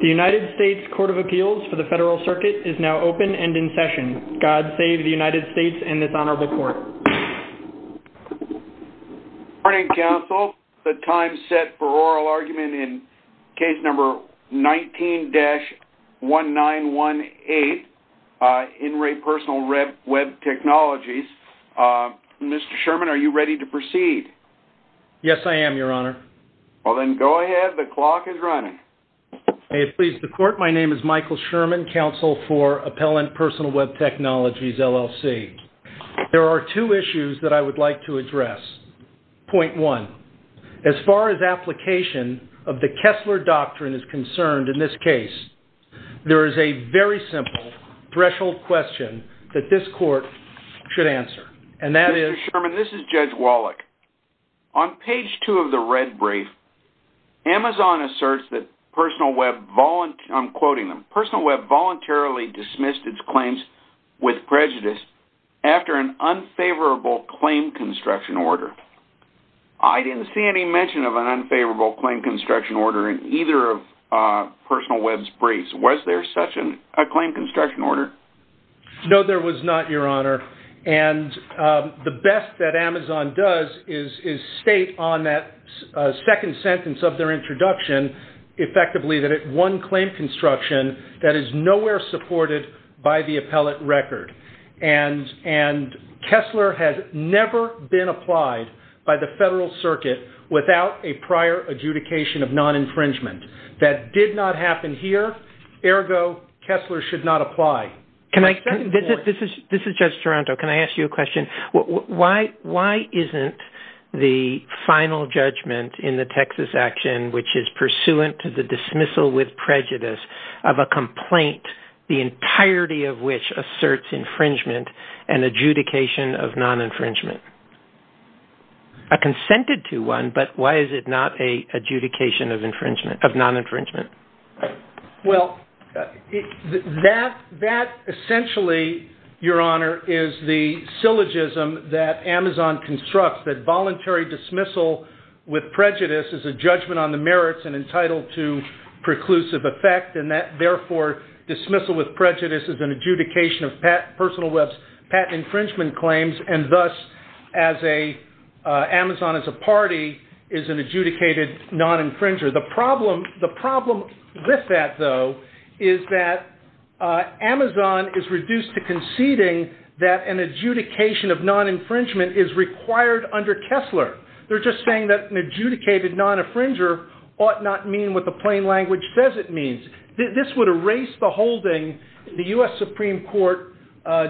The United States Court of Appeals for the Federal Circuit is now open and in session. God save the United States and this honorable court. Good morning counsel. The time set for oral argument in case number 19-1918 In Re PersonalWeb Technologies. Mr. Sherman are you ready to proceed? Yes I am, your honor. Well then go ahead, the clock is running. May it please the court, my name is Michael Sherman, counsel for Appellant PersonalWeb Technologies LLC. There are two issues that I would like to address. Point one, as far as application of the Kessler Doctrine is concerned in this case, there is a very simple threshold question that this court should answer. Mr. Sherman, this is Judge Wallach. On page 2 of the red brief, Amazon asserts that PersonalWeb voluntarily, I'm quoting them, PersonalWeb voluntarily dismissed its claims with prejudice after an unfavorable claim construction order. I didn't see any mention of an unfavorable claim construction order in either of PersonalWeb's briefs. Was there such a claim construction order? No there was not, your honor. And the best that Amazon does is state on that second sentence of their introduction effectively that it won claim construction that is nowhere supported by the appellate record. And Kessler has never been applied by the federal circuit without a prior adjudication of non-infringement. That did not happen here, ergo Kessler should not apply. This is Judge Toronto. Can I ask you a question? Why isn't the final judgment in the Texas action which is pursuant to the dismissal with prejudice of a complaint, the entirety of which asserts infringement, an adjudication of non-infringement? I consented to one, but why is it not an adjudication of non-infringement? Well, that essentially, your honor, is the syllogism that Amazon constructs, that voluntary dismissal with prejudice is a judgment on the merits and entitled to preclusive effect and that therefore dismissal with prejudice is an adjudication of PersonalWeb's patent infringement claims and thus Amazon as a party is an adjudicated non-infringer. The problem with that, though, is that Amazon is reduced to conceding that an adjudication of non-infringement is required under Kessler. They're just saying that an adjudicated non-infringer ought not mean what the plain language says it means. This would erase the holding, the U.S. Supreme Court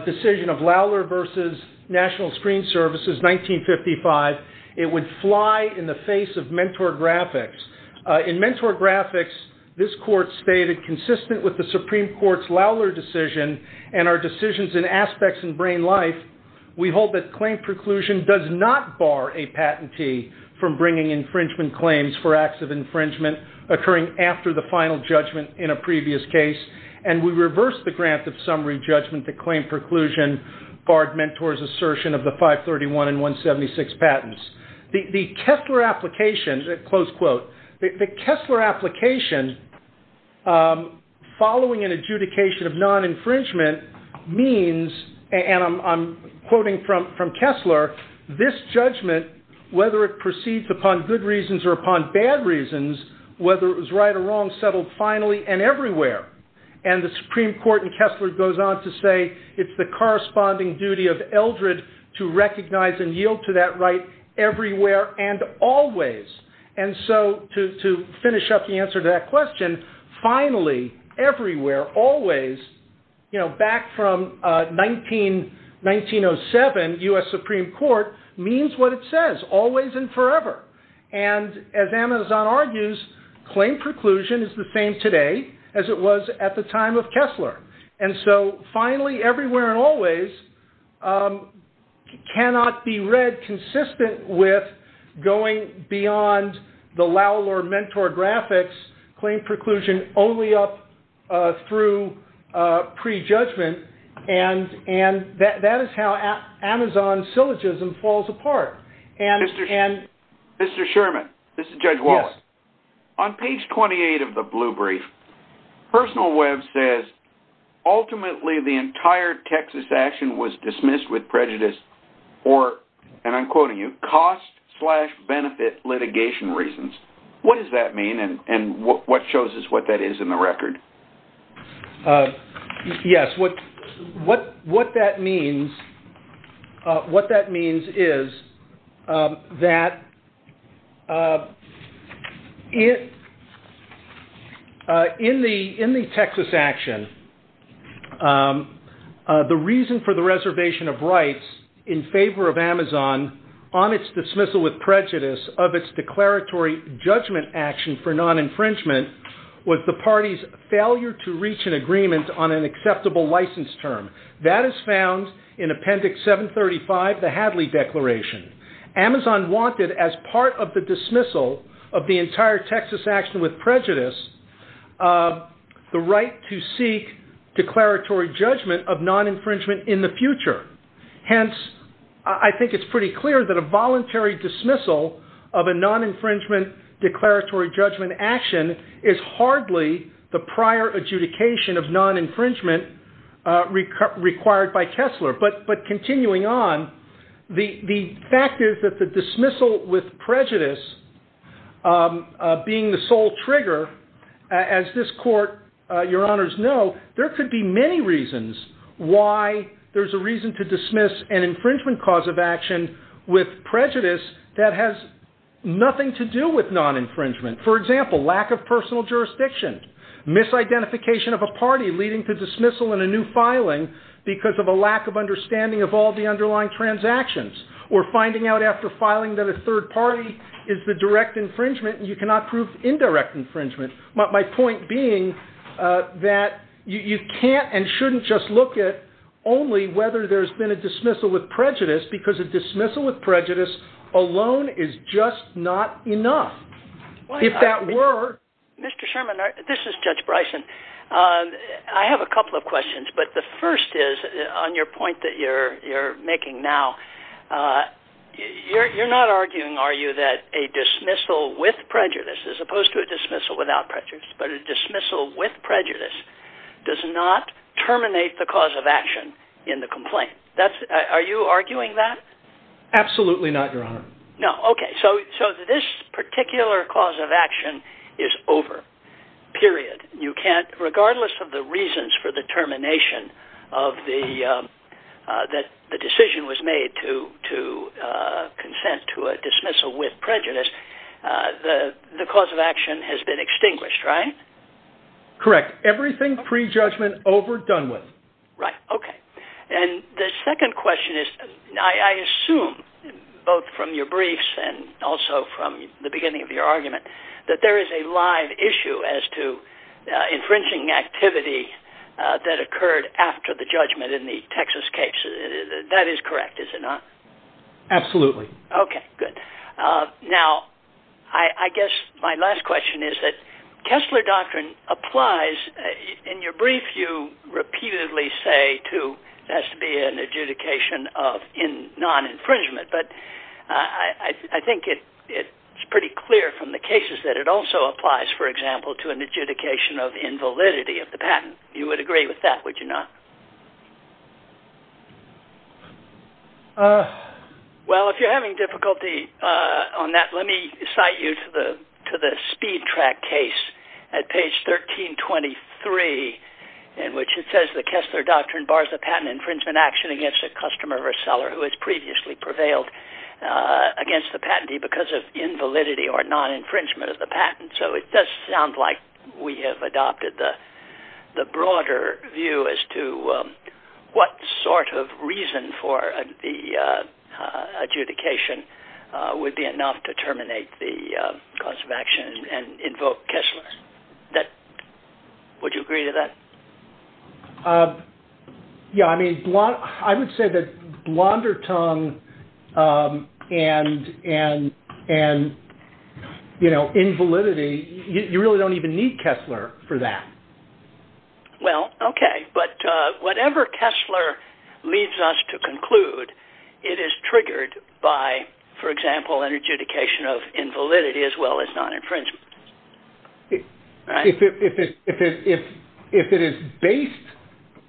decision of Lowler v. National Screen Services, 1955. It would fly in the face of Mentor Graphics. In Mentor Graphics, this court stated, consistent with the Supreme Court's Lowler decision and our decisions in Aspects and Brain Life, we hold that claim preclusion does not bar a patentee from bringing infringement claims for acts of infringement occurring after the final judgment in a previous case and we reverse the grant of summary judgment to claim preclusion barred Mentor's assertion of the 531 and 176 patents. The Kessler application following an adjudication of non-infringement means, and I'm quoting from Kessler, this judgment, whether it proceeds upon good reasons or upon bad reasons, whether it was right or wrong, settled finally and everywhere. And the Supreme Court in Kessler goes on to say it's the corresponding duty of Eldred to recognize and yield to that right everywhere and always. And so, to finish up the answer to that question, finally, everywhere, always, you know, back from 1907, U.S. Supreme Court means what it says, always and forever. And as Amazon argues, claim preclusion is the same today as it was at the time of Kessler. And so, finally, everywhere and always cannot be read consistent with going beyond the Lowell or Mentor graphics, claim preclusion only up through prejudgment, and that is how Amazon syllogism falls apart. Mr. Sherman, this is Judge Wallace. On page 28 of the blue brief, Personal Web says, ultimately, the entire Texas action was dismissed with prejudice or, and I'm quoting you, cost slash benefit litigation reasons. What does that mean and what shows us what that is in the record? Yes, what that means, what that means is that in the Texas action, the reason for the reservation of rights in favor of Amazon on its dismissal with prejudice of its declaratory judgment action for non-infringement was the party's failure to reach an agreement on an acceptable license term. That is found in Appendix 735, the Hadley Declaration. Amazon wanted, as part of the dismissal of the entire Texas action with prejudice, the right to seek declaratory judgment of non-infringement in the future. Hence, I think it's pretty clear that a non-infringement declaratory judgment action is hardly the prior adjudication of non-infringement required by Kessler. But continuing on, the fact is that the dismissal with prejudice being the sole trigger, as this court, your honors know, there could be many reasons why there's a reason to dismiss an infringement cause of action with prejudice that has nothing to do with non-infringement. For example, lack of personal jurisdiction, misidentification of a party leading to dismissal in a new filing because of a lack of understanding of all the underlying transactions, or finding out after filing that a third party is the direct infringement and you cannot prove indirect infringement. My point being that you can't and shouldn't just look at only whether there's been a dismissal with prejudice because a dismissal with prejudice alone is just not enough. If that were... Mr. Sherman, this is Judge Bryson. I have a couple of questions. But the first is, on your point that you're making now, you're not arguing, are you, that a dismissal with prejudice, as opposed to a dismissal without prejudice, but a dismissal with prejudice does not terminate the cause of the complaint? Are you arguing that? Absolutely not, your honor. No, okay. So this particular cause of action is over. Period. You can't, regardless of the reasons for the termination of the, that the decision was made to consent to a dismissal with prejudice, the cause of action has been extinguished, right? Correct. Everything pre-judgment over, done with. Right. Okay. And the second question is, I assume, both from your briefs and also from the beginning of your argument, that there is a live issue as to infringing activity that occurred after the judgment in the Texas case. That is correct, is it not? Absolutely. Okay, good. Now, I guess my last question is that Kessler doctrine applies. In your brief, you repeatedly say, too, it has to be an adjudication of non-infringement, but I think it's pretty clear from the cases that it also applies, for example, to an adjudication of invalidity of the patent. You would agree with that, would you not? Well, if you're having difficulty on that, let me cite you to the Speed Track case at page 1323, in which it says, the Kessler doctrine bars the patent infringement action against a customer or seller who has previously prevailed against the patentee because of invalidity or non-infringement of the patent. So it does sound like we have adopted the broader view as to what sort of reason for the adjudication would be enough to terminate the cause of action and invoke Kessler. Would you agree to that? Yeah, I mean, I would say that blonder tongue and, you know, invalidity, you really don't even need Kessler for that. Well, okay, but whatever Kessler leads us to conclude, it is triggered by, for example, an adjudication of invalidity as well as non-infringement. If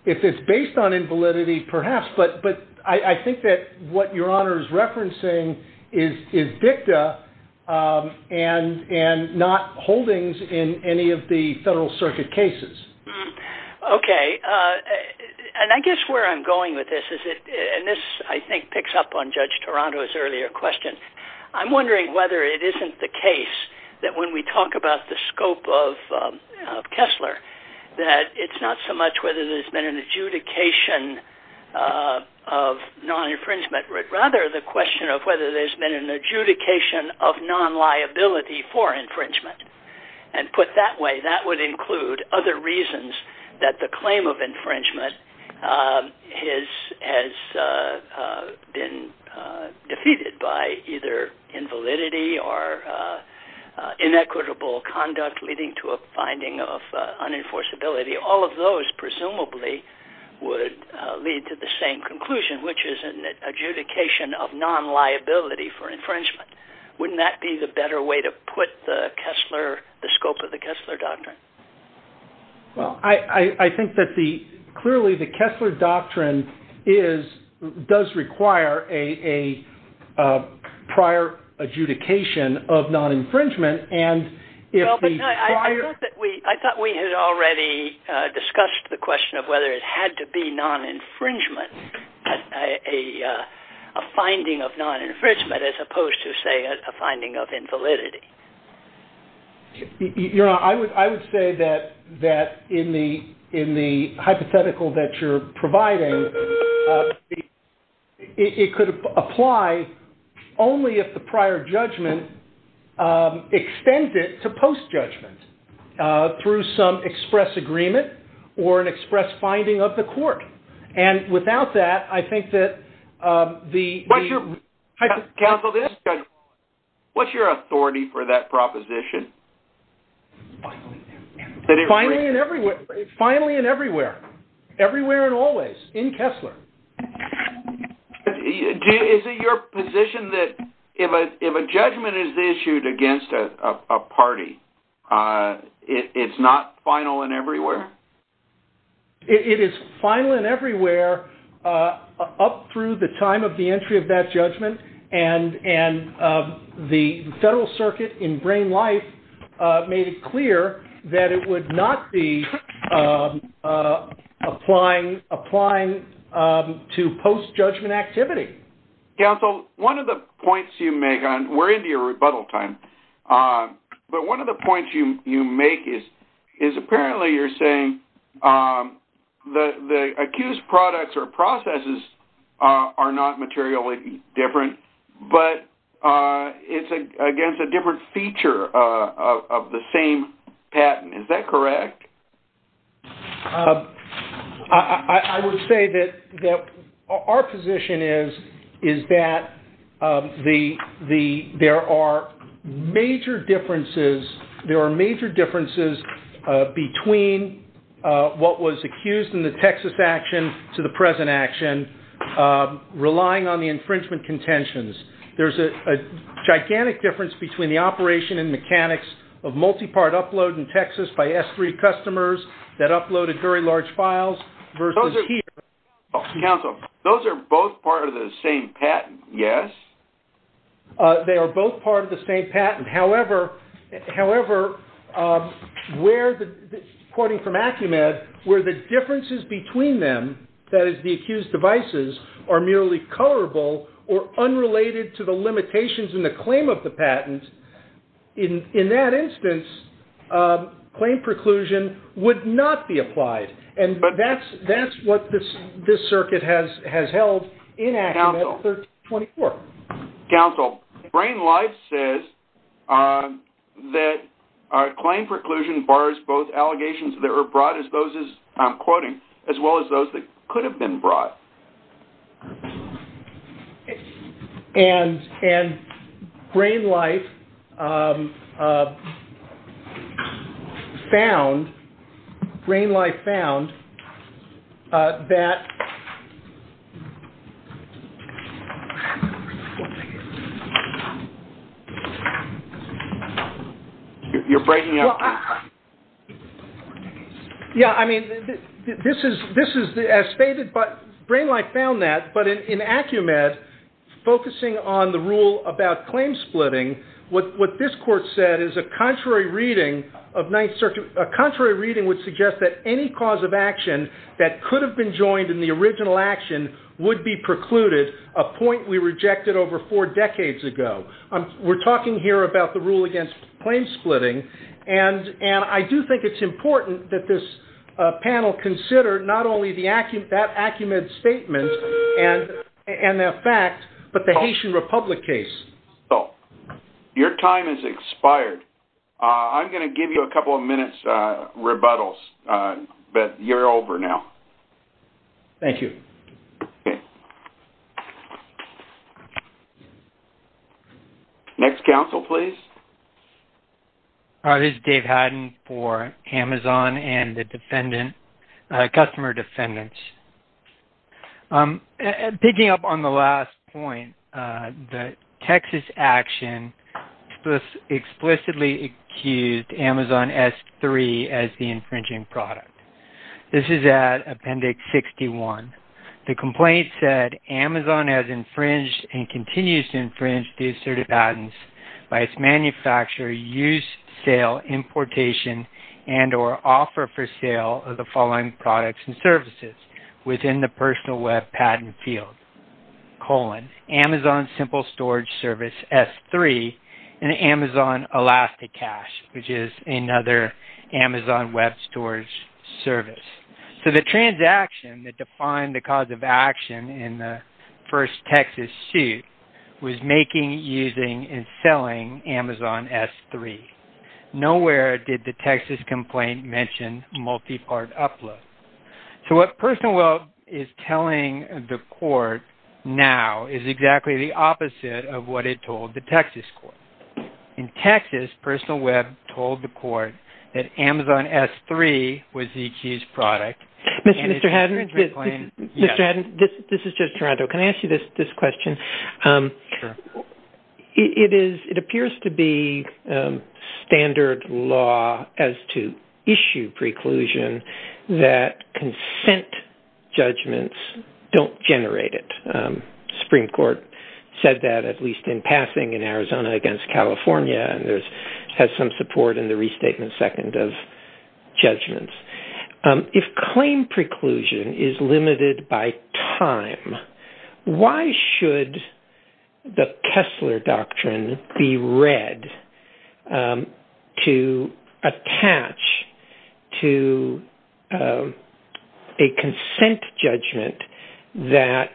it is based on invalidity, perhaps, but I think that what Your Honor is referencing is dicta and not holdings in any of the Federal Circuit cases. Okay, and I guess where I'm going with this is, and this I think picks up on Judge Toronto's earlier question, I'm wondering whether it isn't the case that when we talk about the scope of Kessler, that it's not so much whether there's been an adjudication of non-infringement, but rather the question of whether there's been an adjudication of non-liability for infringement. And put that way, that would include other reasons that the claim of infringement has been defeated by either invalidity or inequitable conduct leading to a finding of unenforceability. All of those presumably would lead to the same conclusion, which is an adjudication of non-liability for infringement. Wouldn't that be the better way to put the Kessler, the scope of the Kessler doctrine? Well, I think that the, clearly the Kessler doctrine is, does require a prior adjudication of non-infringement, and if the prior- I thought we had already discussed the question of whether it had to be non-infringement, a finding of non-infringement, as opposed to, say, a finding of invalidity. You know, I would say that in the hypothetical that you're providing, it could apply only if the prior judgment extended to post-judgment through some express agreement or an express finding of the court. And without that, I think that the- Counsel, what's your authority for that proposition? Finally and everywhere. Finally and everywhere. Everywhere and always in Kessler. Is it your position that if a judgment is issued against a party, it's not final and everywhere? It is final and everywhere up through the time of the entry of that judgment, and the Federal Circuit in Brain Life made it clear that it would not be applying to post-judgment activity. Counsel, one of the points you make, and we're into your rebuttal time, but one of the points you make is apparently you're saying the accused products or processes are not materially different, but it's against a different feature of the same patent. Is that correct? I would say that our position is that there are major differences between what was accused in the Texas action to the present action relying on the infringement contentions. There's a gigantic difference between the operation and mechanics of multi-part upload in Texas by S3 customers that uploaded very large files versus here. Counsel, those are both part of the same patent, yes? They are both part of the same patent. However, according from Acumed, where the differences between them, that is the accused devices, are merely colorable or unrelated to the limitations in the claim of the patent, in that instance, claim preclusion would not be applied. And that's what this circuit has held in Acumed 1324. Counsel, Brain Life says that claim preclusion bars both allegations that were brought as those as I'm quoting, as well as those that could have been brought. And Brain Life found that in Acumed, focusing on the rule about claim splitting, what this court said is a contrary reading would suggest that any cause of action that could have been joined in the original action would be precluded, a point we rejected over four decades ago. We're talking here about the rule against claim splitting, and I do think it's important that this panel consider not only that Acumed statement and the fact, but the Haitian Republic case. So, your time has expired. I'm going to give you a couple of minutes rebuttals, but you're over now. Thank you. Next counsel, please. Hi, this is Dave Hadden for Amazon and the customer defendants. Picking up on the last point, the Texas action explicitly accused Amazon S3 as the infringing product. This is at Appendix 61. The complaint said, Amazon has infringed and continues to infringe the assertive patents by its manufacturer, use, sale, importation, and or offer for sale of the products and services within the personal web patent field, colon, Amazon simple storage service S3 and Amazon ElastiCash, which is another Amazon web storage service. So, the transaction that defined the cause of action in the first Texas suit was making, using, and selling Amazon S3. Nowhere did the Texas complaint mention multi-part upload. So, what personal web is telling the court now is exactly the opposite of what it told the Texas court. In Texas, personal web told the court that Amazon S3 was the accused product. Mr. Hadden, this is just Toronto. Can I ask you this question? Sure. It appears to be standard law as to issue preclusion that consent judgments don't generate it. Supreme Court said that at least in passing in Arizona against California, and there's had some support in the restatement second of judgments. If claim preclusion is limited by time, why should the Kessler Doctrine be read to attach to a consent judgment that,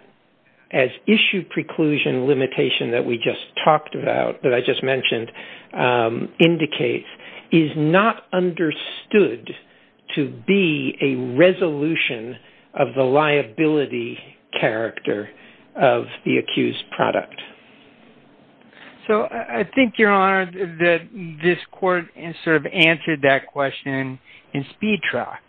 as issue preclusion limitation that we just talked about, that I just mentioned, indicates is not understood to be a resolution of the liability character of the accused product? So, I think, Your Honor, that this court sort of answered that question in speed track.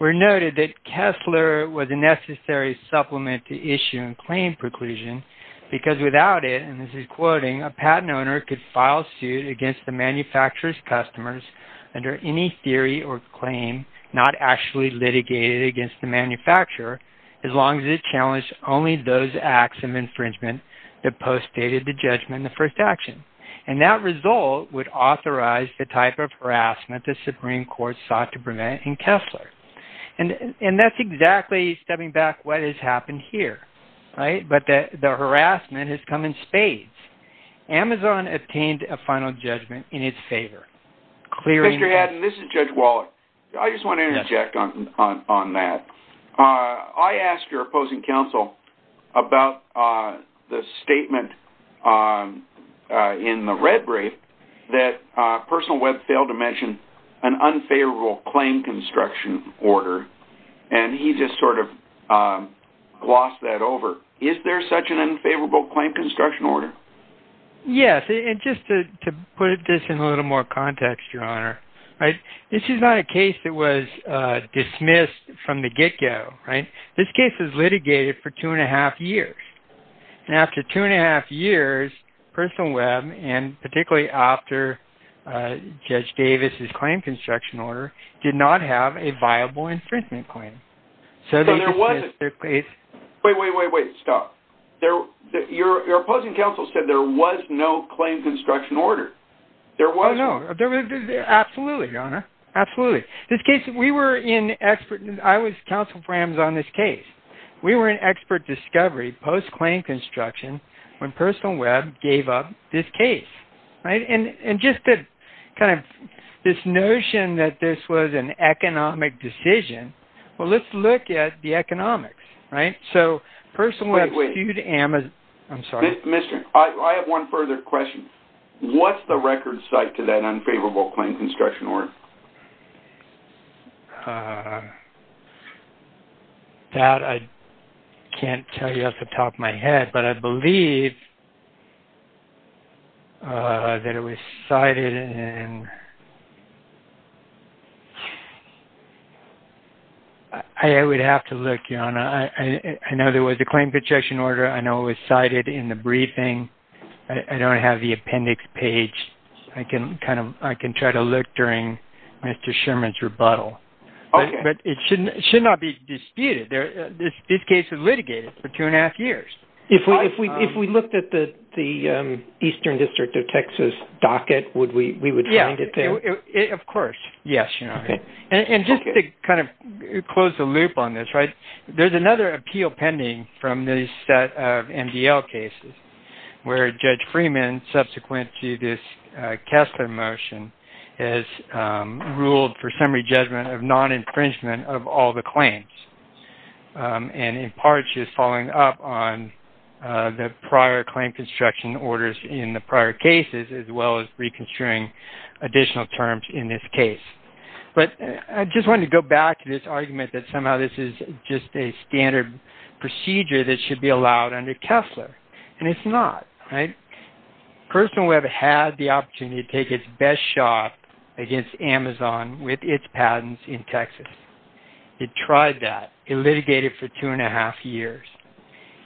We noted that Kessler was a necessary supplement to issue and claim preclusion because without it, and this is quoting, a patent owner could file suit against the manufacturer's customers under any theory or claim not actually litigated against the manufacturer as long as it challenged only those acts of infringement that postdated the judgment in the first action. And that result would authorize the type of harassment the Supreme Court sought to prevent in Kessler. And that's exactly, stepping back, what has happened here, but the harassment has come in spades. Amazon obtained a final judgment in its favor. Mr. Haddon, this is Judge Wallach. I just want to interject on that. I asked your opposing counsel about the statement in the red brief that Personal Web failed to mention an unfavorable claim construction order. And he just sort of glossed that over. Is there such an unfavorable claim construction order? Yes. And just to put this in a little more context, Your Honor, this is not a case that was dismissed from the get-go. This case was litigated for two and a half years. And after two and a half years, Personal Web, and particularly after Judge Wallach, did not have a viable infringement claim. Wait, wait, wait. Stop. Your opposing counsel said there was no claim construction order. Oh, no. Absolutely, Your Honor. Absolutely. This case, we were in expert, I was counsel for Amazon on this case. We were in expert discovery post-claim construction when Personal Web gave up this case. And just to kind of, this notion that this was an economic decision, well, let's look at the economics, right? So, Personal Web skewed Amazon. I'm sorry. Mr. I have one further question. What's the record site to that unfavorable claim construction order? That I can't tell you off the top of my head, but I believe that it was cited in... I would have to look, Your Honor. I know there was a claim construction order. I know it was cited in the briefing. I don't have the appendix page. I can try to look during Mr. Sherman's rebuttal. But it should not be disputed. This case was litigated for two and the Eastern District of Texas docket, we would find it there. Of course. Yes, Your Honor. And just to kind of close the loop on this, right? There's another appeal pending from this set of MDL cases where Judge Freeman, subsequent to this Kessler motion, has ruled for summary judgment of orders in the prior cases, as well as reconstruing additional terms in this case. But I just wanted to go back to this argument that somehow this is just a standard procedure that should be allowed under Kessler. And it's not, right? Personal Web had the opportunity to take its best shot against Amazon with its patents in Texas. It tried that. It litigated for two and a half years.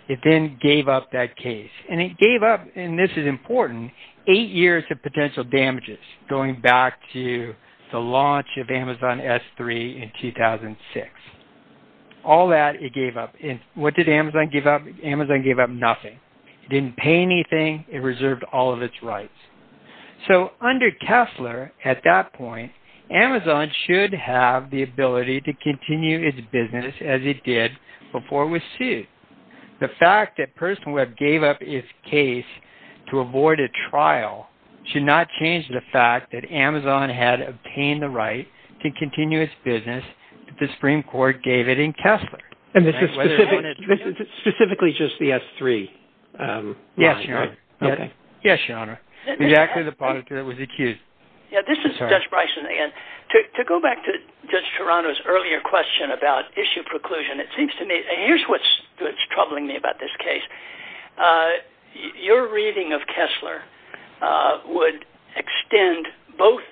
It then gave up that case. And it gave up, and this is important, eight years of potential damages going back to the launch of Amazon S3 in 2006. All that, it gave up. And what did Amazon give up? Amazon gave up nothing. It didn't pay anything. It reserved all of its rights. So under Kessler, at that point, Amazon should have the ability to continue its business as it did before it was sued. The fact that Personal Web gave up its case to avoid a trial should not change the fact that Amazon had obtained the right to continue its business that the Supreme Court gave it in Kessler. And this is specifically just the S3? Yes, Your Honor. Yes, Your Honor. Exactly the part that was accused. Yeah, this is Judge Bryson again. To go back to Judge Toronto's earlier question about issue preclusion, it seems to me, and here's what's troubling me about this case. Your reading of Kessler would extend both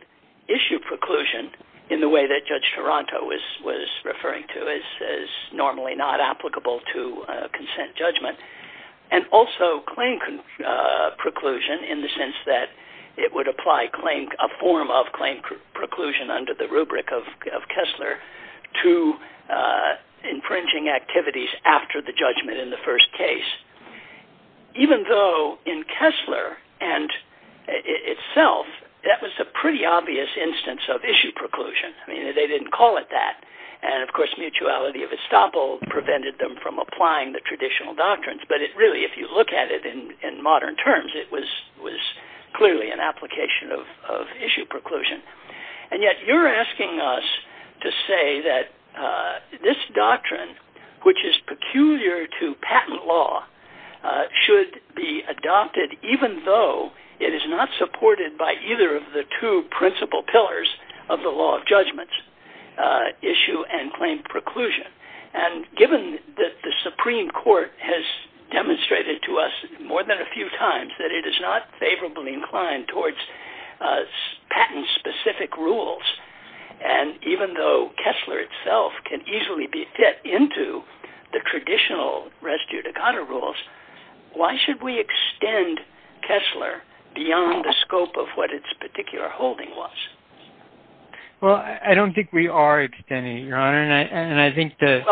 issue preclusion in the way that Judge Toronto was referring to as normally not applicable to consent judgment, and also claim preclusion in the sense that it would apply a form of claim preclusion under the rubric of Kessler to infringing activities after the judgment in the first case. Even though in Kessler and itself, that was a pretty obvious instance of issue preclusion. I mean, they didn't call it that. And of course, mutuality of estoppel prevented them from applying the traditional doctrines. But really, if you look at it in modern terms, it was clearly an application of issue preclusion. And yet you're asking us to say that this doctrine, which is peculiar to patent law, should be adopted even though it is not supported by either of the two principal pillars of the law of judgment, issue and claim preclusion. And given that the Supreme Court has demonstrated to us more than a few times that it is not favorably inclined towards patent-specific rules, and even though Kessler itself can easily be fit into the traditional res judicata rules, why should we extend Kessler beyond the scope of what its particular holding was? Well, I don't think we are extending it, Your Honor, and I think that...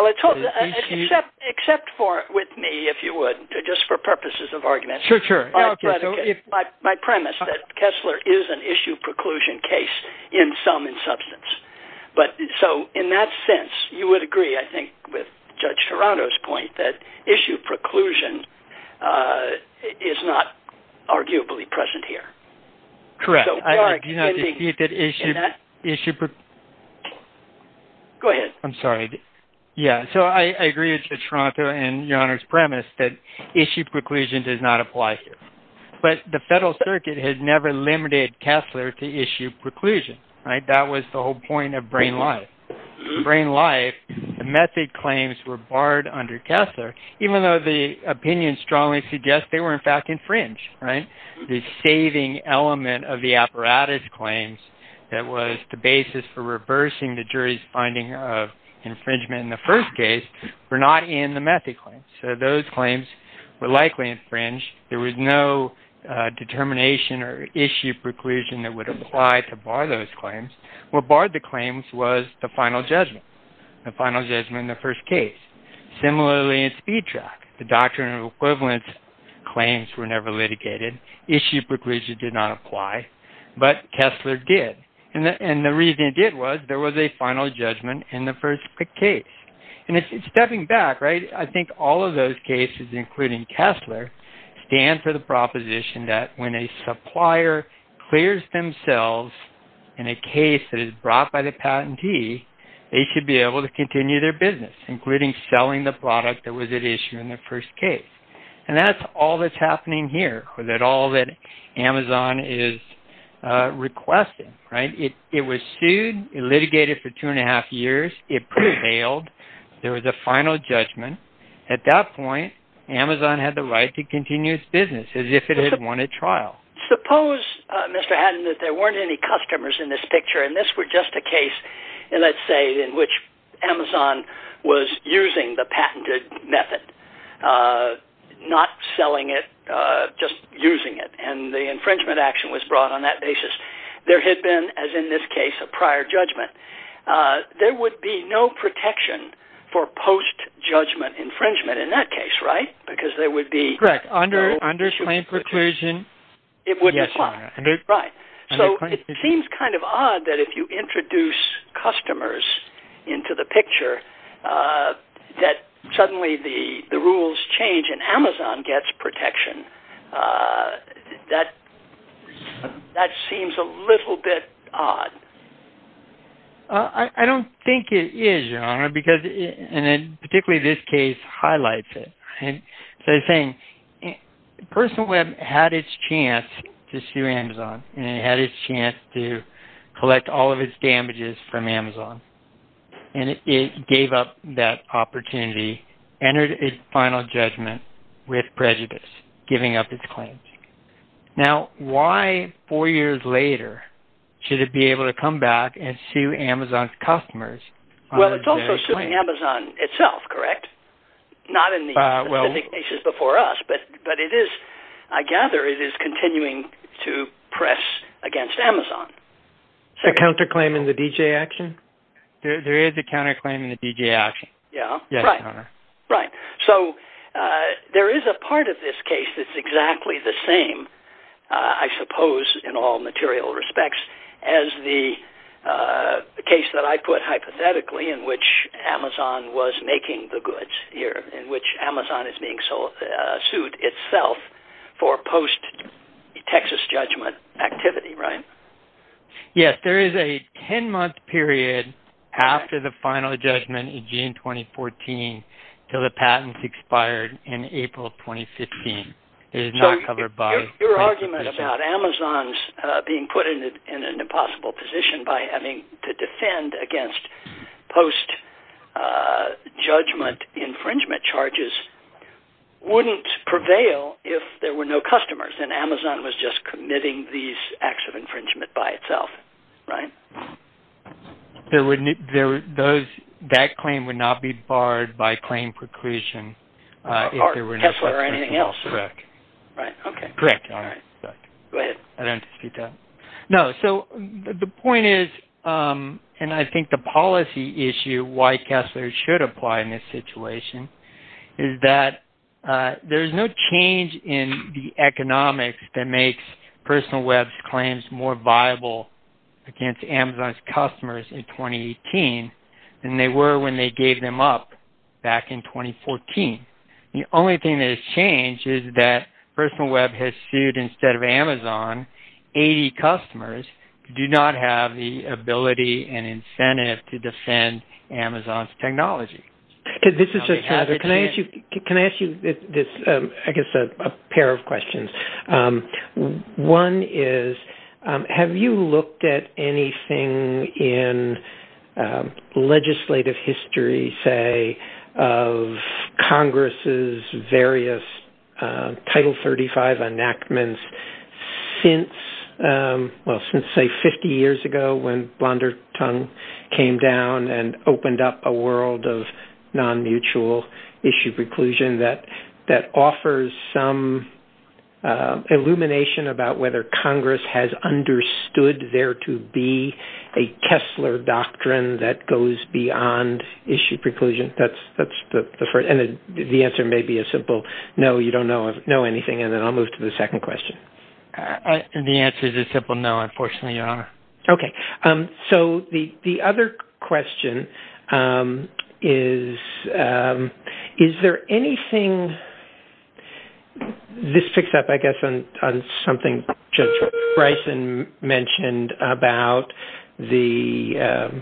Except for with me, if you would, just for purposes of argument. My premise that Kessler is an issue preclusion case in sum and substance. But so in that sense, you would agree, I think, with Judge Toronto's point that issue preclusion is not arguably present here. Correct. I do not dispute that issue... Go ahead. I'm sorry. Yeah. So I agree with Judge Toronto and Your Honor's premise that issue preclusion does not apply here. But the Federal Circuit has never limited Kessler to issue preclusion, right? That was the whole point of brain life. Brain life, the method claims were barred under Kessler, even though the opinion strongly suggests they were in fact infringed, right? The saving element of the apparatus claims that was the basis for reversing the jury's finding of infringement in the first case were not in the method claims. So those claims were likely infringed. There was no determination or issue preclusion that would apply to bar those claims. What barred the claims was the final judgment, the final judgment in the first case. Similarly, in Speed Track, the doctrine of equivalence claims were never litigated. Issue preclusion did not apply, but Kessler did. And the reason it did was there was a final judgment in the first case. And stepping back, right, I think all of those cases, including Kessler, stand for the proposition that when a supplier clears themselves in a case that is brought by a patentee, they should be able to continue their business, including selling the product that was at issue in the first case. And that's all that's happening here, that all that Amazon is requesting, right? It was sued, it litigated for two and a half years, it prevailed. There was a final judgment. At that point, Amazon had the right to continue its business as if it had won a trial. Suppose, Mr. Haddon, that there weren't any customers in this picture, and this were just a case, let's say, in which Amazon was using the patented method, not selling it, just using it, and the infringement action was brought on that basis. There had been, as in this case, a prior judgment. There would be no protection for post-judgment infringement in that case, right? Correct. Under plain preclusion, it wouldn't apply. Yes, Your Honor. Right. So it seems kind of odd that if you introduce customers into the picture, that suddenly the rules change and Amazon gets protection. That seems a little bit odd. I don't think it is, Your Honor, because particularly this case highlights it. So the thing, Personal Web had its chance to sue Amazon, and it had its chance to collect all of its damages from Amazon, and it gave up that opportunity, entered its final judgment with its final judgment. Well, it's also suing Amazon itself, correct? Not in the cases before us, but I gather it is continuing to press against Amazon. A counterclaim in the D.J. action? There is a counterclaim in the D.J. action. Yes, Your Honor. Right. So there is a part of this case that's exactly the same, I suppose, in all material respects as the case that I put hypothetically in which Amazon was making the goods here, in which Amazon is being sued itself for post-Texas judgment activity, right? Yes, there is a 10-month period after the final judgment in June 2014 until the patents expired in April 2015. It is not covered by... Your argument about Amazon's being put in an impossible position by having to defend against post-judgment infringement charges wouldn't prevail if there were no customers, and Amazon was just committing these acts of infringement by itself, right? That claim would not be barred by claim preclusion if there were no... Or Tesla or anything else. Correct. Right. Okay. Correct. All right. Go ahead. I don't speak to that. No. So the point is, and I think the policy issue, why Kessler should apply in this situation is that there is no change in the economics that makes Personal Web's claims more viable against Amazon's customers in 2018 than they were when they gave them up back in 2014. The only thing that has changed is that Personal Web has sued, instead of Amazon, 80 customers who do not have the ability and incentive to defend Amazon's technology. This is just... Can I ask you, I guess, a pair of questions? One is, have you looked at anything in legislative history, say, of Congress's various Title 35 enactments since, well, since, say, 50 years ago when Blondertongue came down and opened up a world of non-mutual issue preclusion that offers some illumination about whether Congress has understood there to be a Kessler doctrine that goes beyond issue preclusion? That's the first. And the answer may be a simple, no, you don't know anything. And then I'll move to the second question. The answer is a simple no, unfortunately, Your Honor. Okay. So the other question is, is there anything... This picks up, I guess, on something Judge Bryson mentioned about the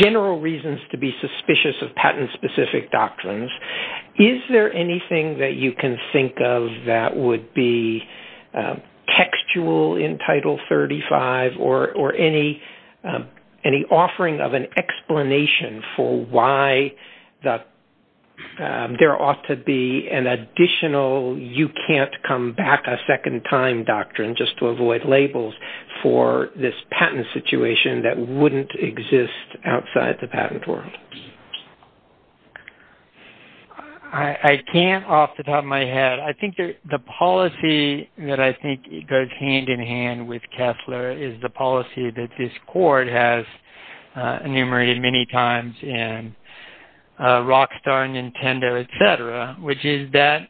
general reasons to be suspicious of patent-specific doctrines. Is there anything that you can think of that would be textual in Title 35 or any offering of explanation for why there ought to be an additional you-can't-come-back-a-second-time doctrine just to avoid labels for this patent situation that wouldn't exist outside the patent world? I can't off the top of my head. I think the policy that I think goes hand-in-hand with many times in Rockstar, Nintendo, et cetera, which is that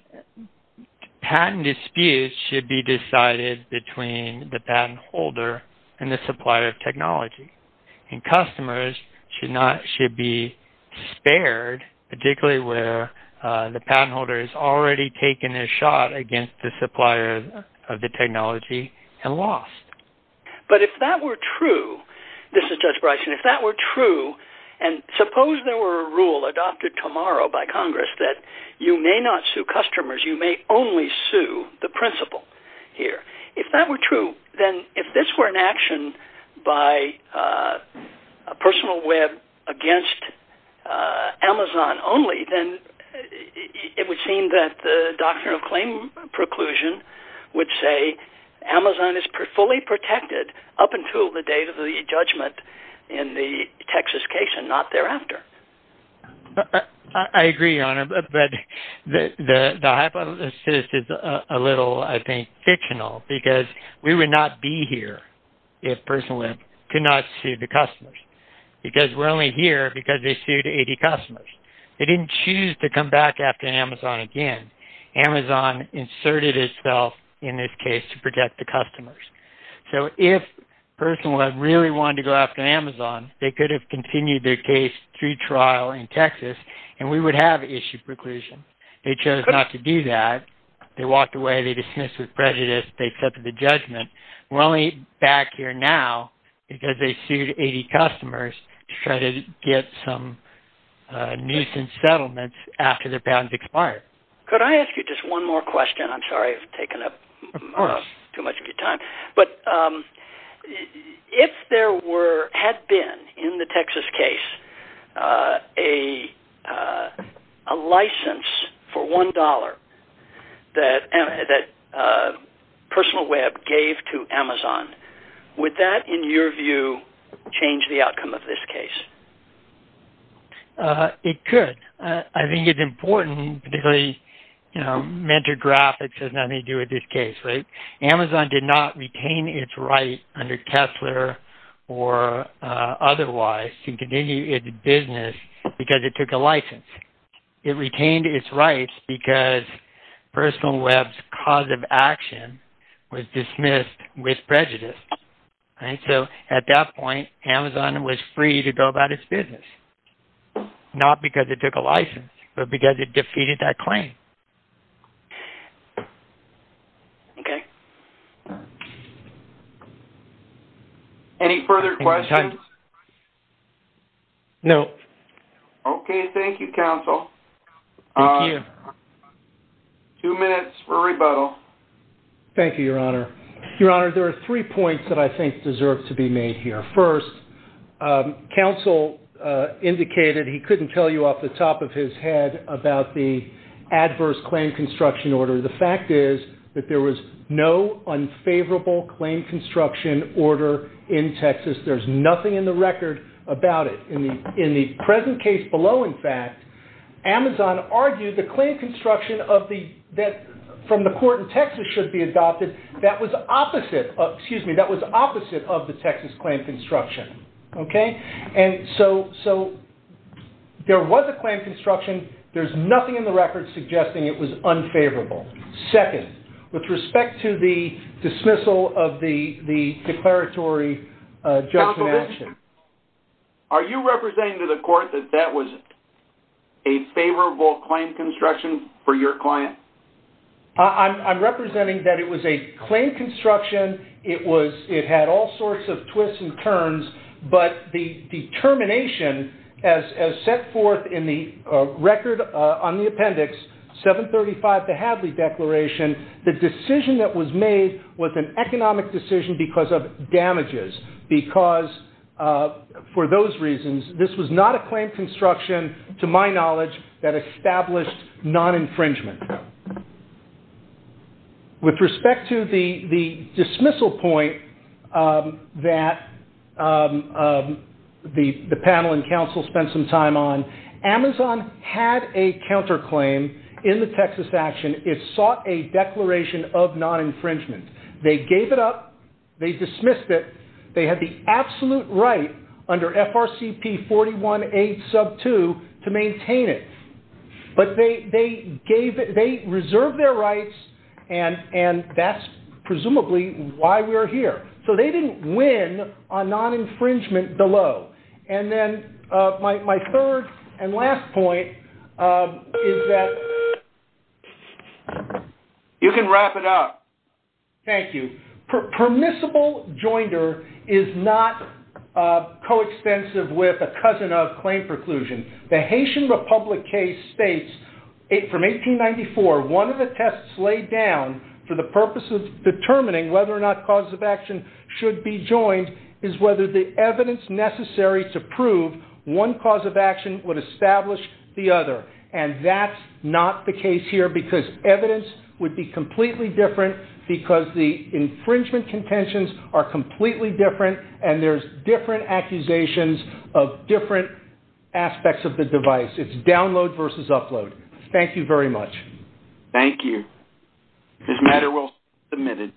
patent disputes should be decided between the patent holder and the supplier of technology. And customers should be spared, particularly where the patent holder has already taken a shot against the supplier of the technology and lost. But if that were true, this is Judge Bryson, if that were true, and suppose there were a rule adopted tomorrow by Congress that you may not sue customers, you may only sue the principal here. If that were true, then if this were an action by a personal web against Amazon only, then it would seem that the doctrine of claim preclusion would say Amazon is fully protected up until the date of the judgment in the Texas case and not thereafter. I agree, Your Honor, but the hypothesis is a little, I think, fictional because we would not be here if Personal Web could not sue the customers because we're only here because they sued 80 customers. They didn't choose to come back after Amazon again. Amazon inserted itself in this case to protect the customers. So if Personal Web really wanted to go after Amazon, they could have continued their case through trial in Texas, and we would have issued preclusion. They chose not to do that. They walked away. They dismissed with prejudice. They accepted the judgment. We're only back here now because they sued 80 customers to try to get some nuisance settlements after their patents expired. Could I ask you just one more question? I'm sorry I've taken up too much of your time. But if there had been, in the Texas case, a license for $1 that Personal Web gave to Amazon, would that, in your view, change the outcome of this case? It could. I think it's important, particularly, you know, mentor graphics has nothing to do with this case. Amazon did not retain its right under Kessler or otherwise to continue its business because it took a license. It retained its rights because Personal Web's cause of action was dismissed with prejudice. So at that point, Amazon was free to go about its business, not because it took a license, but because it defeated that claim. Okay. Any further questions? No. Okay. Thank you, counsel. Two minutes for rebuttal. Thank you, Your Honor. Your Honor, there are three points that I think deserve to be made here. First, counsel indicated he couldn't tell you off the top of his head about the adverse claim construction order. The fact is that there was no unfavorable claim construction order in Texas. There's nothing in the record about it. In the present case below, in fact, Amazon argued the claim construction of the, that from the court in Texas should be adopted, that was opposite, excuse me, that was opposite of the Texas claim construction. Okay? And so there was a claim construction. There's nothing in the record suggesting it was unfavorable. Second, with respect to the dismissal of the declaratory judgment action. Counsel, are you representing to the court that that was a favorable claim construction for your client? I'm representing that it was a claim construction. It was, it had all sorts of twists and turns, but the determination as set forth in the record on the appendix, 735, the Hadley Declaration, the decision that was made was an economic decision because of damages. Because for those reasons, this was not a claim construction to my knowledge that established non-infringement. With respect to the dismissal point that the panel and counsel spent some time on, Amazon had a counterclaim in the Texas action. It sought a declaration of non-infringement. They gave it up. They dismissed it. They had the absolute right under FRCP 41A sub 2 to maintain it. But they gave it, they reserved their rights and that's why we're here. They didn't win on non-infringement below. My third and last point is that you can wrap it up. Thank you. Permissible joinder is not coextensive with a cousin of claim preclusion. The Haitian Republic case states from 1894, one of the tests laid down for the purpose of determining whether or not causes of action should be joined is whether the evidence necessary to prove one cause of action would establish the other. And that's not the case here because evidence would be completely different because the infringement contentions are completely different and there's different accusations of different aspects of the device. It's download versus upload. Thank you very much. Thank you. This matter will be submitted.